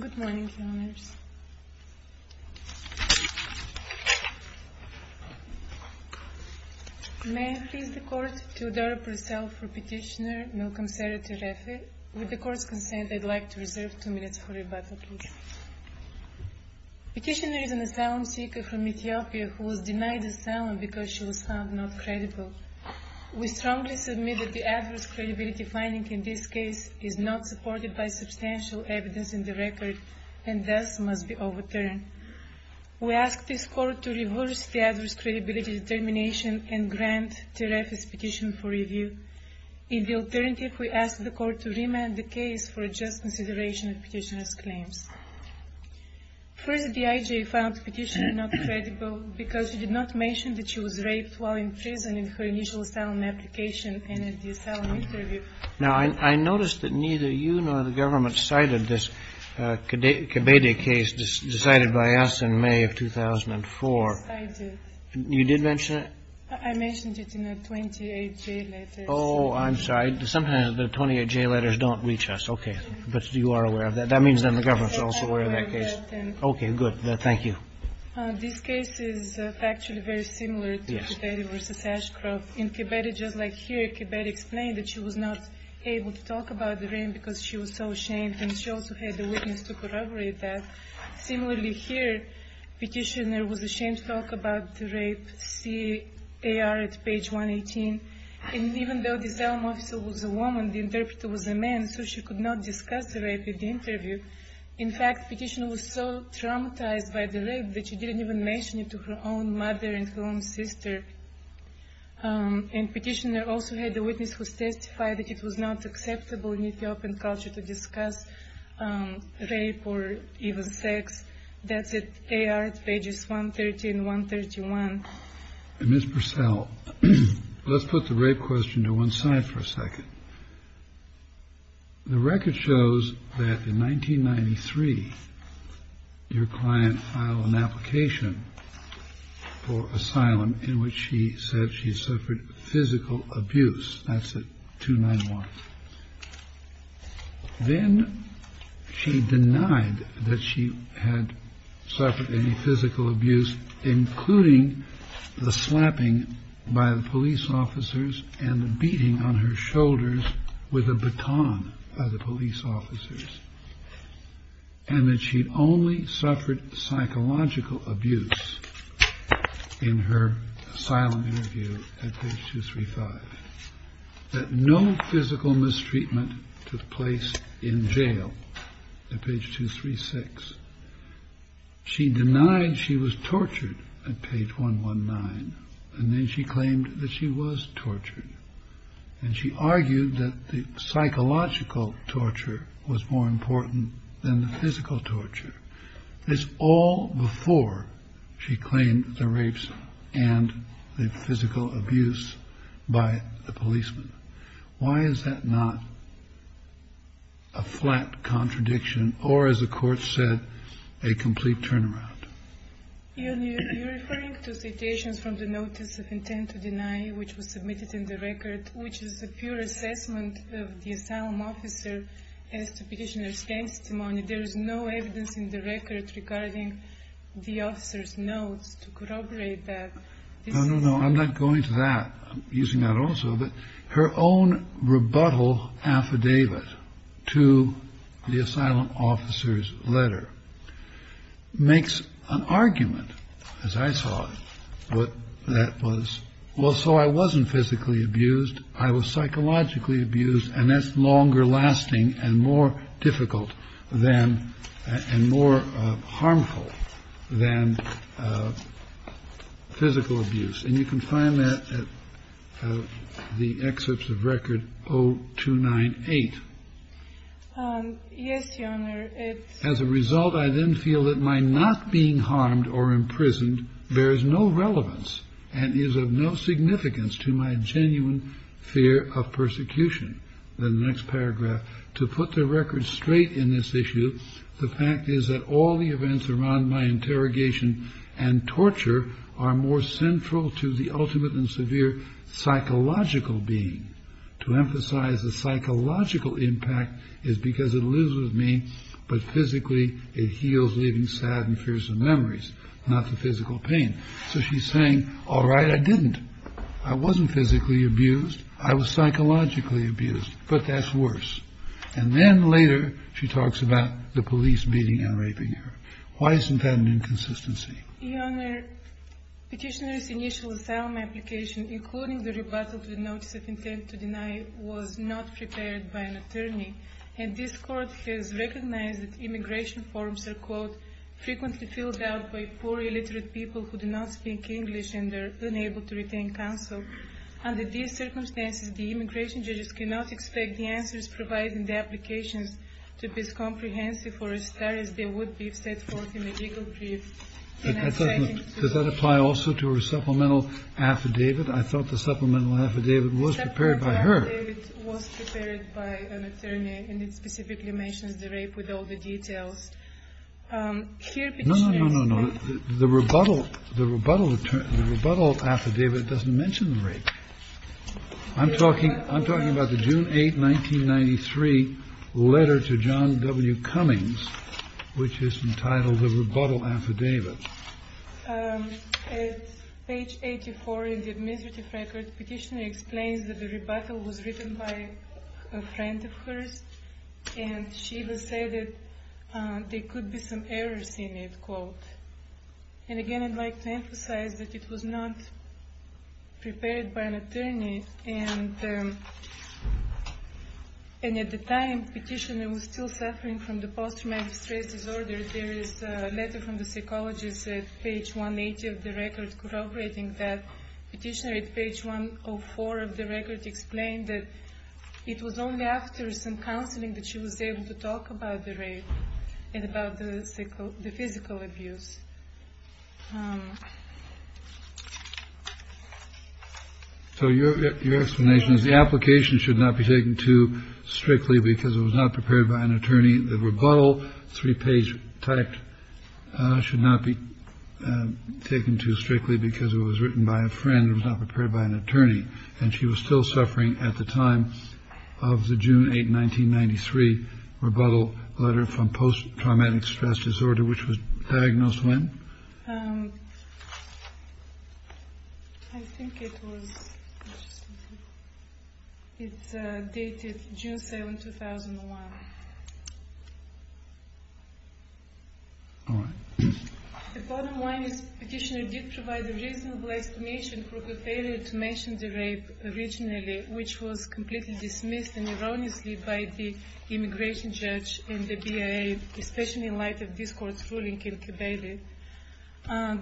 Good morning, Your Honours. May I please the Court to adopt reserve for Petitioner Malcolm Sera Terefe. With the Court's consent, I'd like to reserve two minutes for rebuttal, please. Petitioner is an asylum seeker from Ethiopia who was denied asylum because of not being credible. We strongly submit that the adverse credibility finding in this case is not supported by substantial evidence in the record and thus must be overturned. We ask this Court to reverse the adverse credibility determination and grant Terefe's petition for review. In the alternative, we ask the Court to remand the case for a just consideration of Petitioner's claims. First, the IJ found Petitioner not credible because she did not mention that she was raped while in prison in her initial asylum application and in the asylum interview. Now, I noticed that neither you nor the government cited this Kibede case decided by us in May of 2004. I did. You did mention it? I mentioned it in the 28J letters. Oh, I'm sorry. Sometimes the 28J letters don't reach us. Okay. But you are aware of that. That means that the government is also aware of that case. I am aware of that. Okay, good. Thank you. This case is actually very similar to Kibede v. Ashcroft. In Kibede, just like here, Kibede explained that she was not able to talk about the rape because she was so ashamed and she also had the witness to corroborate that. Similarly, here, Petitioner was ashamed to talk about the rape. See AR at page 118. And even though the asylum officer was a woman, the interpreter was a man, so she could not discuss the rape in the interview. In fact, Petitioner was so traumatized by the rape that she didn't even mention it to her own mother and her own sister. And Petitioner also had the witness who testified that it was not acceptable in Ethiopian culture to discuss rape or even sex. That's at AR at pages 130 and 131. And Ms. Purcell, let's put the rape question to one side for a second. The record shows that in 1993, your client filed an application for asylum in which she said she suffered physical abuse. That's at 291. Then she denied that she had suffered any physical abuse, including the slapping by the police officers and the beating on her shoulders with a baton by the police officers, and that she only suffered psychological abuse in her asylum interview at page 235. That no physical mistreatment took place in jail at page 236. She denied she was tortured at page 119, and then she claimed that she was tortured. And she argued that the psychological torture was more important than the physical torture. This all before she claimed the rapes and the physical abuse by the policemen. Why is that not a flat contradiction or, as the court said, a complete turnaround? You're referring to citations from the Notice of Intent to Deny, which was submitted in the record, which is a pure assessment of the asylum officer as to petitioner's testimony. There is no evidence in the record regarding the officer's notes to corroborate that. No, no, no. I'm not going to that. I'm using that also. But her own rebuttal affidavit to the asylum officer's letter makes an argument, as I saw it, that was, well, so I wasn't physically abused. I was psychologically abused. And that's longer lasting and more difficult than and more harmful than physical abuse. And you can find that at the excerpts of record 0298. Yes, Your Honor. As a result, I then feel that my not being harmed or imprisoned bears no relevance and is of no significance to my genuine fear of persecution. In the next paragraph, to put the record straight in this issue, the fact is that all the events around my interrogation and torture are more central to the ultimate and severe psychological being. To emphasize the psychological impact is because it lives with me, but physically it heals leaving sad and fearsome memories, not the physical pain. So she's saying, all right, I didn't. I wasn't physically abused. I was psychologically abused. But that's worse. And then later she talks about the police beating and raping her. Why isn't that an inconsistency? Your Honor, petitioner's initial asylum application, including the rebuttal to the notice of intent to deny, was not prepared by an attorney. And this court has recognized that immigration forms are, quote, frequently filled out by poor illiterate people who do not speak English and are unable to retain counsel. Under these circumstances, the immigration judges cannot expect the answers provided in the applications to be as comprehensive or as fair as they would be if set forth in the legal brief. Does that apply also to her supplemental affidavit? I thought the supplemental affidavit was prepared by her. Supplemental affidavit was prepared by an attorney, and it specifically mentions the rape with all the details. No, no, no, no, no. The rebuttal affidavit doesn't mention the rape. I'm talking about the June 8, 1993 letter to John W. Cummings, which is entitled the rebuttal affidavit. At page 84 in the administrative record, petitioner explains that the rebuttal was written by a friend of hers, and she was said that there could be some errors in it, quote. And again, I'd like to emphasize that it was not prepared by an attorney, and at the time, petitioner was still suffering from the post-traumatic stress disorder. There is a letter from the psychologist at page 180 of the record corroborating that. Petitioner at page 104 of the record explained that it was only after some counseling that she was able to talk about the rape and about the physical abuse. So your explanation is the application should not be taken too strictly because it was not prepared by an attorney, and she was still suffering at the time of the June 8, 1993 rebuttal letter from post-traumatic stress disorder, which was diagnosed when? I think it was dated June 7, 2001. All right. The bottom line is petitioner did provide a reasonable explanation for her failure to mention the rape originally, which was completely dismissed and erroneously by the immigration judge and the BIA, especially in light of this court's ruling in Kibale.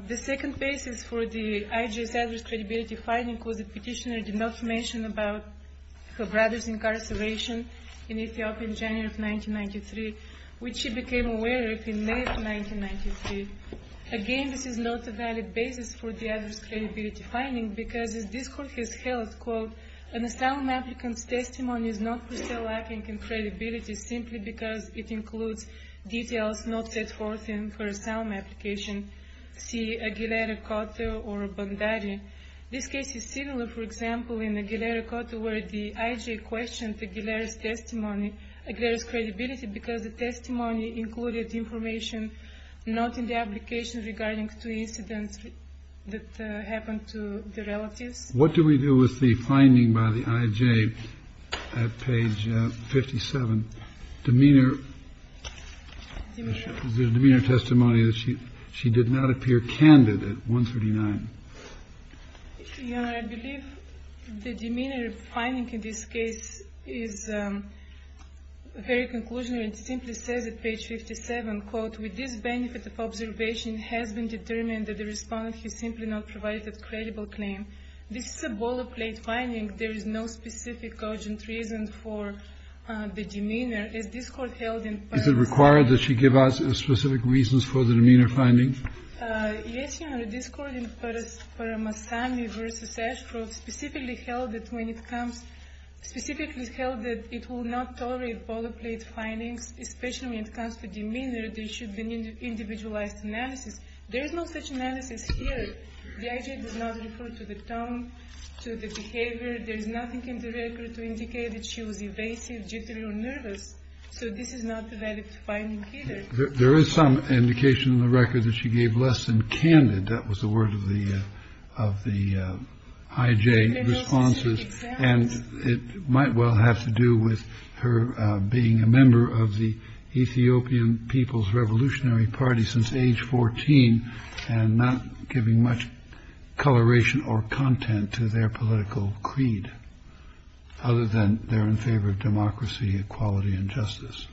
The second basis for the IJS adverse credibility finding was that petitioner did not mention about her brother's incarceration in Ethiopia in January of 1993, which she became aware of in May of 1993. Again, this is not a valid basis for the adverse credibility finding because this court has held, quote, an asylum applicant's testimony is not per se lacking in credibility simply because it includes details not set forth in her asylum application, see Aguilera-Cotto or Bondari. This case is similar, for example, in Aguilera-Cotto, where the IJ questioned Aguilera's testimony, Aguilera's credibility, because the testimony included information not in the application regarding two incidents that happened to the relatives. What do we do with the finding by the IJ at page 57, demeanor testimony that she did not appear candid at 139? Your Honor, I believe the demeanor finding in this case is very conclusionary. It simply says at page 57, quote, with this benefit of observation has been determined that the respondent has simply not provided a credible claim. This is a boilerplate finding. There is no specific urgent reason for the demeanor. Is this court held in Paris? Is it required that she give us specific reasons for the demeanor findings? Yes, Your Honor. This court in Paris, Paramasami v. Ashcroft, specifically held that when it comes, specifically held that it will not tolerate boilerplate findings, especially when it comes to demeanor, there should be an individualized analysis. There is no such analysis here. The IJ does not refer to the tone, to the behavior. There is nothing in the record to indicate that she was evasive, jittery, or nervous. So this is not a valid finding either. There is some indication in the record that she gave less than candid. That was the word of the IJ responses. And it might well have to do with her being a member of the Ethiopian People's Revolutionary Party since age 14 and not giving much coloration or content to their political creed other than they're in favor of democracy, equality, and justice.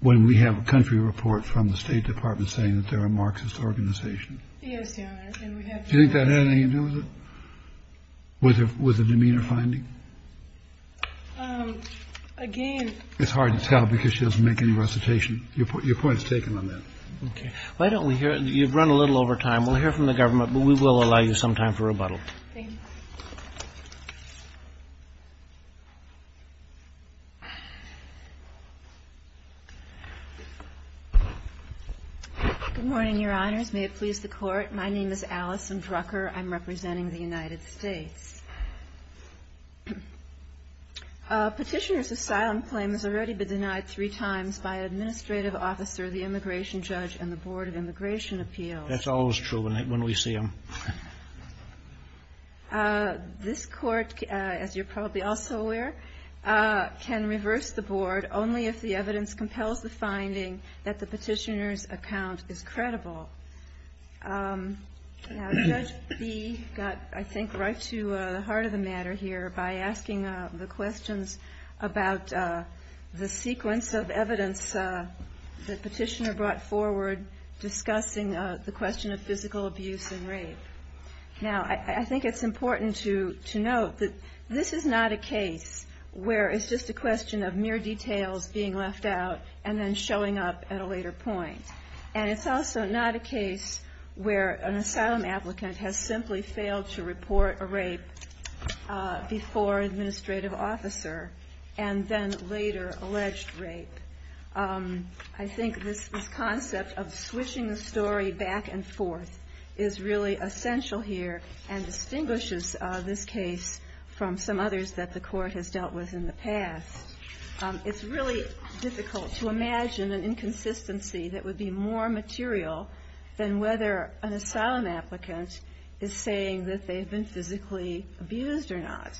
When we have a country report from the State Department saying that there are Marxist organizations. Yes, Your Honor. Do you think that had anything to do with it, with the demeanor finding? Again. It's hard to tell because she doesn't make any recitation. Your point is taken on that. Okay. Why don't we hear it? You've run a little over time. We'll hear from the government, but we will allow you some time for rebuttal. Thank you. Good morning, Your Honors. May it please the Court. My name is Alison Drucker. I'm representing the United States. Petitioner's asylum claim has already been denied three times by administrative officer, the immigration judge, and the Board of Immigration Appeals. That's always true when we see them. This court, as you're probably also aware, can reverse the board only if the evidence compels the finding that the petitioner's account is credible. Judge Bee got, I think, right to the heart of the matter here by asking the questions about the sequence of evidence the petitioner brought forward discussing the question of physical abuse and rape. Now, I think it's important to note that this is not a case where it's just a question of mere details being left out and then showing up at a later point. And it's also not a case where an asylum applicant has simply failed to report a rape before an administrative officer and then later alleged rape. I think this concept of switching the story back and forth is really essential here and distinguishes this case from some others that the Court has dealt with in the past. It's really difficult to imagine an inconsistency that would be more material than whether an asylum applicant is saying that they've been physically abused or not.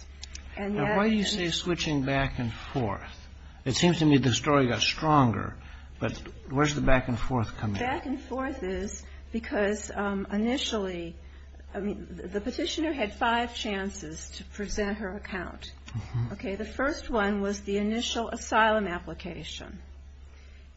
Now, why do you say switching back and forth? It seems to me the story got stronger. But where's the back and forth coming from? Back and forth is because initially the petitioner had five chances to present her account. Okay. The first one was the initial asylum application.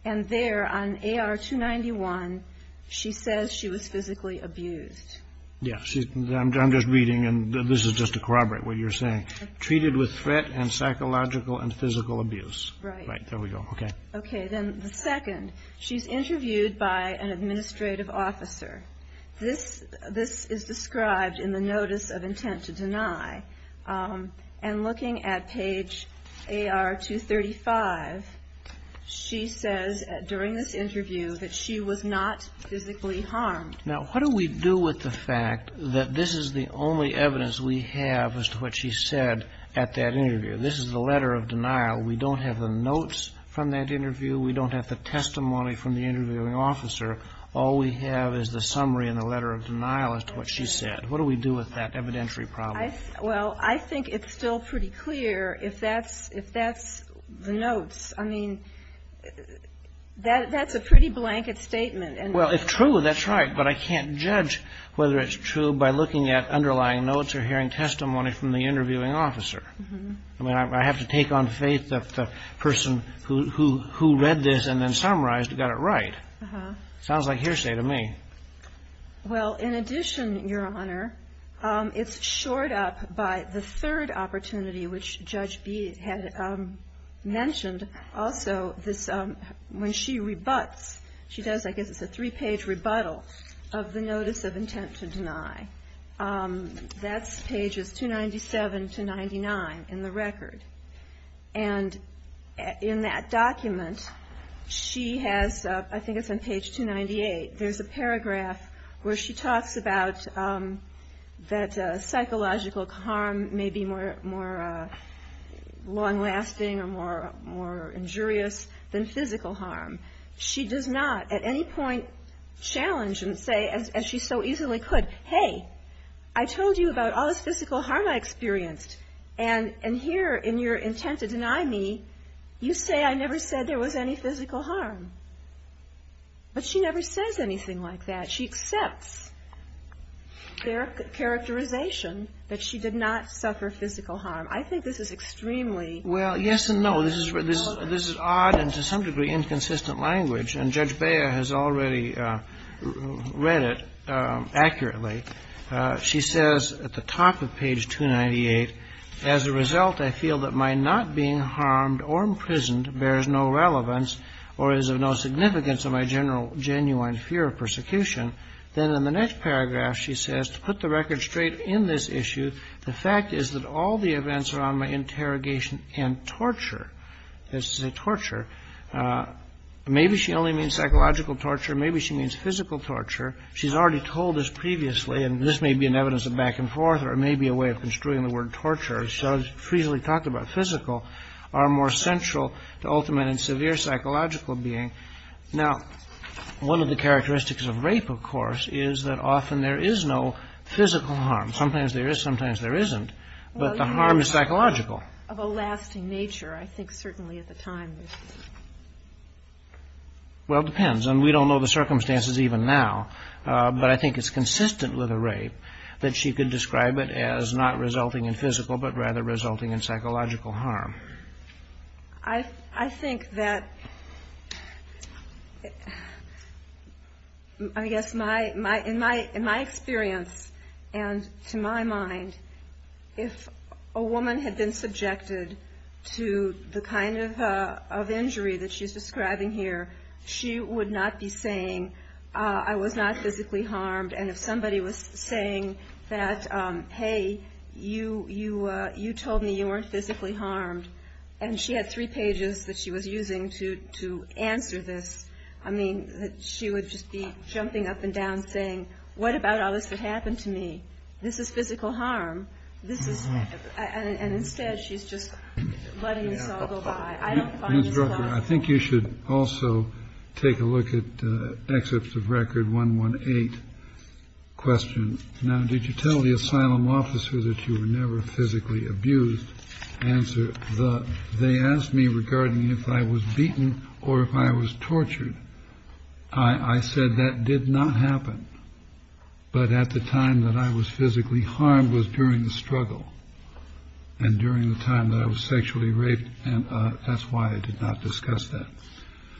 And there on AR-291, she says she was physically abused. Yes. I'm just reading, and this is just to corroborate what you're saying. Treated with threat and psychological and physical abuse. Right. Right. There we go. Okay. Okay. Then the second, she's interviewed by an administrative officer. This is described in the notice of intent to deny. And looking at page AR-235, she says during this interview that she was not physically harmed. Now, what do we do with the fact that this is the only evidence we have as to what she said at that interview? This is the letter of denial. We don't have the notes from that interview. We don't have the testimony from the interviewing officer. All we have is the summary and the letter of denial as to what she said. What do we do with that evidentiary problem? Well, I think it's still pretty clear if that's the notes. I mean, that's a pretty blanket statement. Well, if true, that's right, but I can't judge whether it's true by looking at underlying notes or hearing testimony from the interviewing officer. I mean, I have to take on faith that the person who read this and then summarized got it right. Sounds like hearsay to me. Well, in addition, Your Honor, it's shored up by the third opportunity, which Judge B. had mentioned also, when she rebuts, she does, I guess it's a three-page rebuttal of the notice of intent to deny. That's pages 297 to 99 in the record. And in that document, she has, I think it's on page 298, there's a paragraph where she talks about that psychological harm may be more long-lasting or more injurious than physical harm. She does not at any point challenge and say, as she so easily could, hey, I told you about all this physical harm I experienced, and here in your intent to deny me, you say I never said there was any physical harm. But she never says anything like that. She accepts their characterization that she did not suffer physical harm. I think this is extremely. Well, yes and no. This is odd and to some degree inconsistent language. And Judge Bea has already read it accurately. She says at the top of page 298, As a result, I feel that my not being harmed or imprisoned bears no relevance or is of no significance of my genuine fear of persecution. Then in the next paragraph, she says, To put the record straight in this issue, the fact is that all the events around my interrogation and torture, this is a torture, maybe she only means psychological torture, maybe she means physical torture. She's already told us previously, and this may be an evidence of back and forth or it may be a way of construing the word torture, as Judge Friese talked about physical are more central to ultimate and severe psychological being. Now, one of the characteristics of rape, of course, is that often there is no physical harm. Sometimes there is, sometimes there isn't. But the harm is psychological. Of a lasting nature, I think certainly at the time. Well, it depends. And we don't know the circumstances even now. But I think it's consistent with a rape that she could describe it as not resulting in physical, but rather resulting in psychological harm. I think that, I guess, in my experience and to my mind, if a woman had been subjected to the kind of injury that she's describing here, she would not be saying, I was not physically harmed. And if somebody was saying that, hey, you told me you weren't physically harmed, and she had three pages that she was using to answer this, I mean, she would just be jumping up and down saying, what about all this that happened to me? This is physical harm. And instead, she's just letting this all go by. I don't find this plausible. Ms. Drucker, I think you should also take a look at Excerpts of Record 118 question. Now, did you tell the asylum officer that you were never physically abused? Answer, they asked me regarding if I was beaten or if I was tortured. I said that did not happen. But at the time that I was physically harmed was during the struggle, and during the time that I was sexually raped. And that's why I did not discuss that.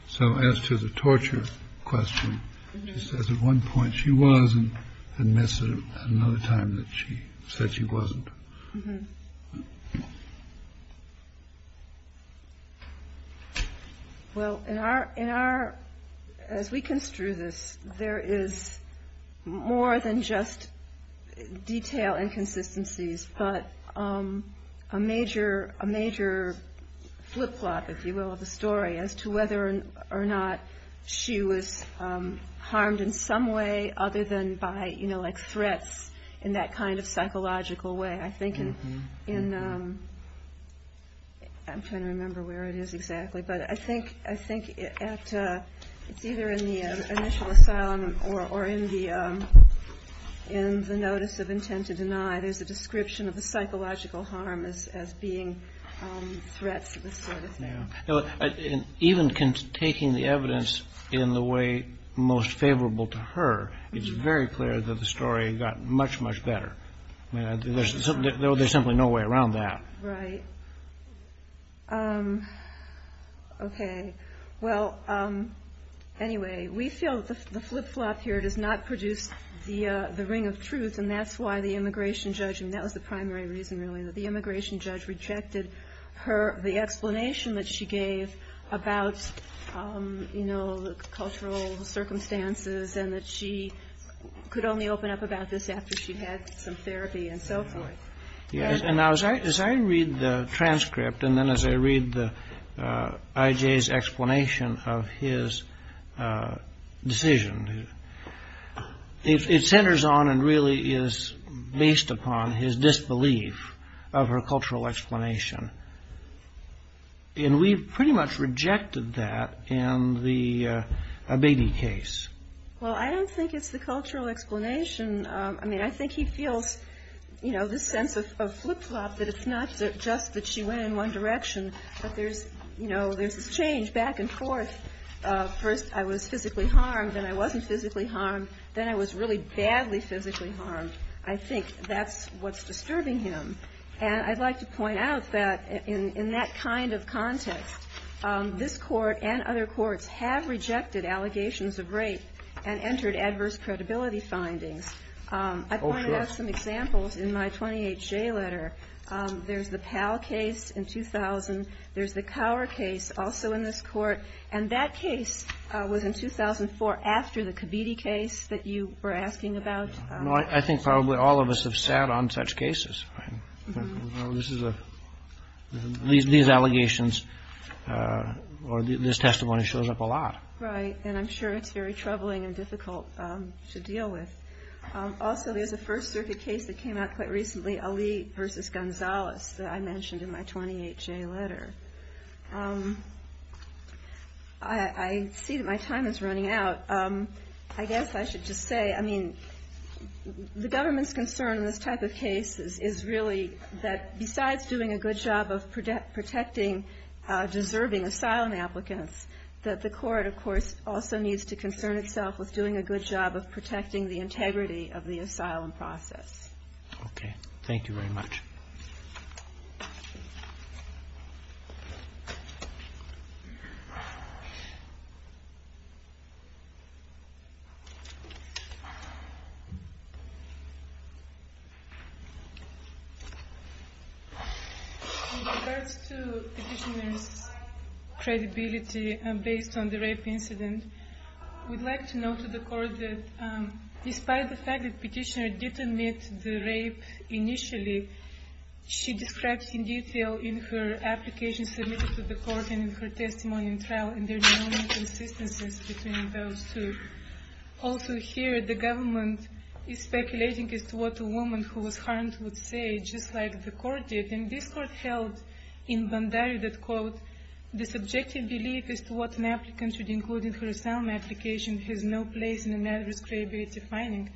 So as to the torture question, she says at one point she was, and admits at another time that she said she wasn't. Well, as we construe this, there is more than just detail inconsistencies, but a major flip-flop, if you will, of the story as to whether or not she was harmed in some way, other than by threats in that kind of psychological way. I'm trying to remember where it is exactly, but I think it's either in the initial asylum or in the notice of intent to deny. There's a description of the psychological harm as being threats of this sort of thing. Even taking the evidence in the way most favorable to her, it's very clear that the story got much, much better. There's simply no way around that. Right. Okay. Well, anyway, we feel that the flip-flop here does not produce the ring of truth, and that's why the immigration judge, and that was the primary reason really, that the immigration judge rejected the explanation that she gave about cultural circumstances and that she could only open up about this after she had some therapy and so forth. Yes. Now, as I read the transcript and then as I read I.J.'s explanation of his decision, it centers on and really is based upon his disbelief of her cultural explanation. And we've pretty much rejected that in the Abedi case. Well, I don't think it's the cultural explanation. I mean, I think he feels, you know, this sense of flip-flop that it's not just that she went in one direction, but there's, you know, there's this change back and forth. First I was physically harmed, then I wasn't physically harmed, then I was really badly physically harmed. I think that's what's disturbing him. And I'd like to point out that in that kind of context, this Court and other courts have rejected allegations of rape and entered adverse credibility findings. Oh, sure. I pointed out some examples in my 20HJ letter. There's the Powell case in 2000. There's the Cower case also in this Court. And that case was in 2004 after the Kabidi case that you were asking about. I think probably all of us have sat on such cases. These allegations or this testimony shows up a lot. Right. And I'm sure it's very troubling and difficult to deal with. Also, there's a First Circuit case that came out quite recently, Ali v. Gonzales, that I mentioned in my 20HJ letter. I see that my time is running out. I guess I should just say, I mean, the government's concern in this type of case is really that, besides doing a good job of protecting deserving asylum applicants, that the Court, of course, also needs to concern itself with doing a good job of protecting the integrity of the asylum process. Okay. Thank you very much. With regards to Petitioner's credibility based on the rape incident, we'd like to note to the Court that despite the fact that Petitioner did admit to the rape initially, she describes in detail in her application submitted to the Court and in her testimony in trial, and there's no inconsistencies between those two. Also, here, the government is speculating as to what a woman who was harmed would say, just like the Court did. And this Court held in Bandari that, quote, the subjective belief as to what an applicant should include in her asylum application has no place in the matters of credibility finding.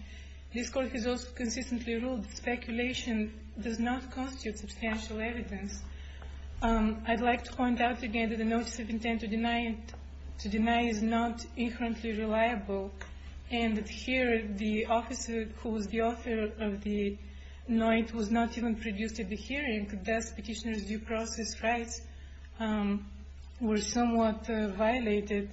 This Court has also consistently ruled that speculation does not constitute substantial evidence. I'd like to point out again that the notice of intent to deny is not inherently reliable, and that here, the officer who was the author of the note was not even produced at the hearing, thus Petitioner's due process rights were somewhat violated.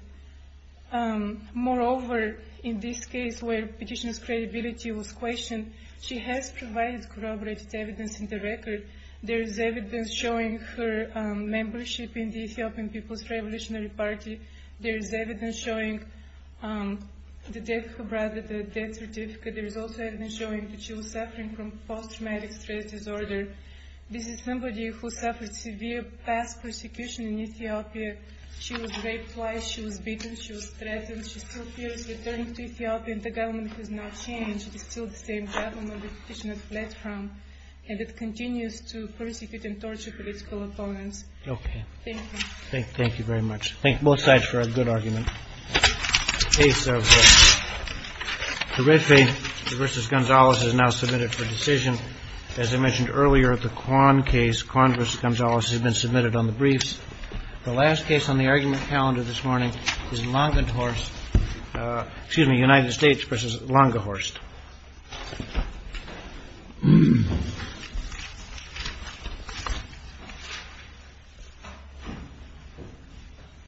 Moreover, in this case where Petitioner's credibility was questioned, she has provided corroborated evidence in the record. There is evidence showing her membership in the Ethiopian People's Revolutionary Party. There is evidence showing the death of her brother, the death certificate. There is also evidence showing that she was suffering from post-traumatic stress disorder. This is somebody who suffered severe past persecution in Ethiopia. She was raped twice. She was beaten. She was threatened. She still fears returning to Ethiopia, and the government has not changed. It is still the same government that Petitioner fled from, and it continues to persecute and torture political opponents. Thank you. Thank you very much. Thank both sides for a good argument. The case of the Red Faith v. Gonzalez is now submitted for decision. As I mentioned earlier, the Kwan case, Kwan v. Gonzalez, has been submitted on the briefs. The last case on the argument calendar this morning is Langehorst. Excuse me, United States v. Langehorst.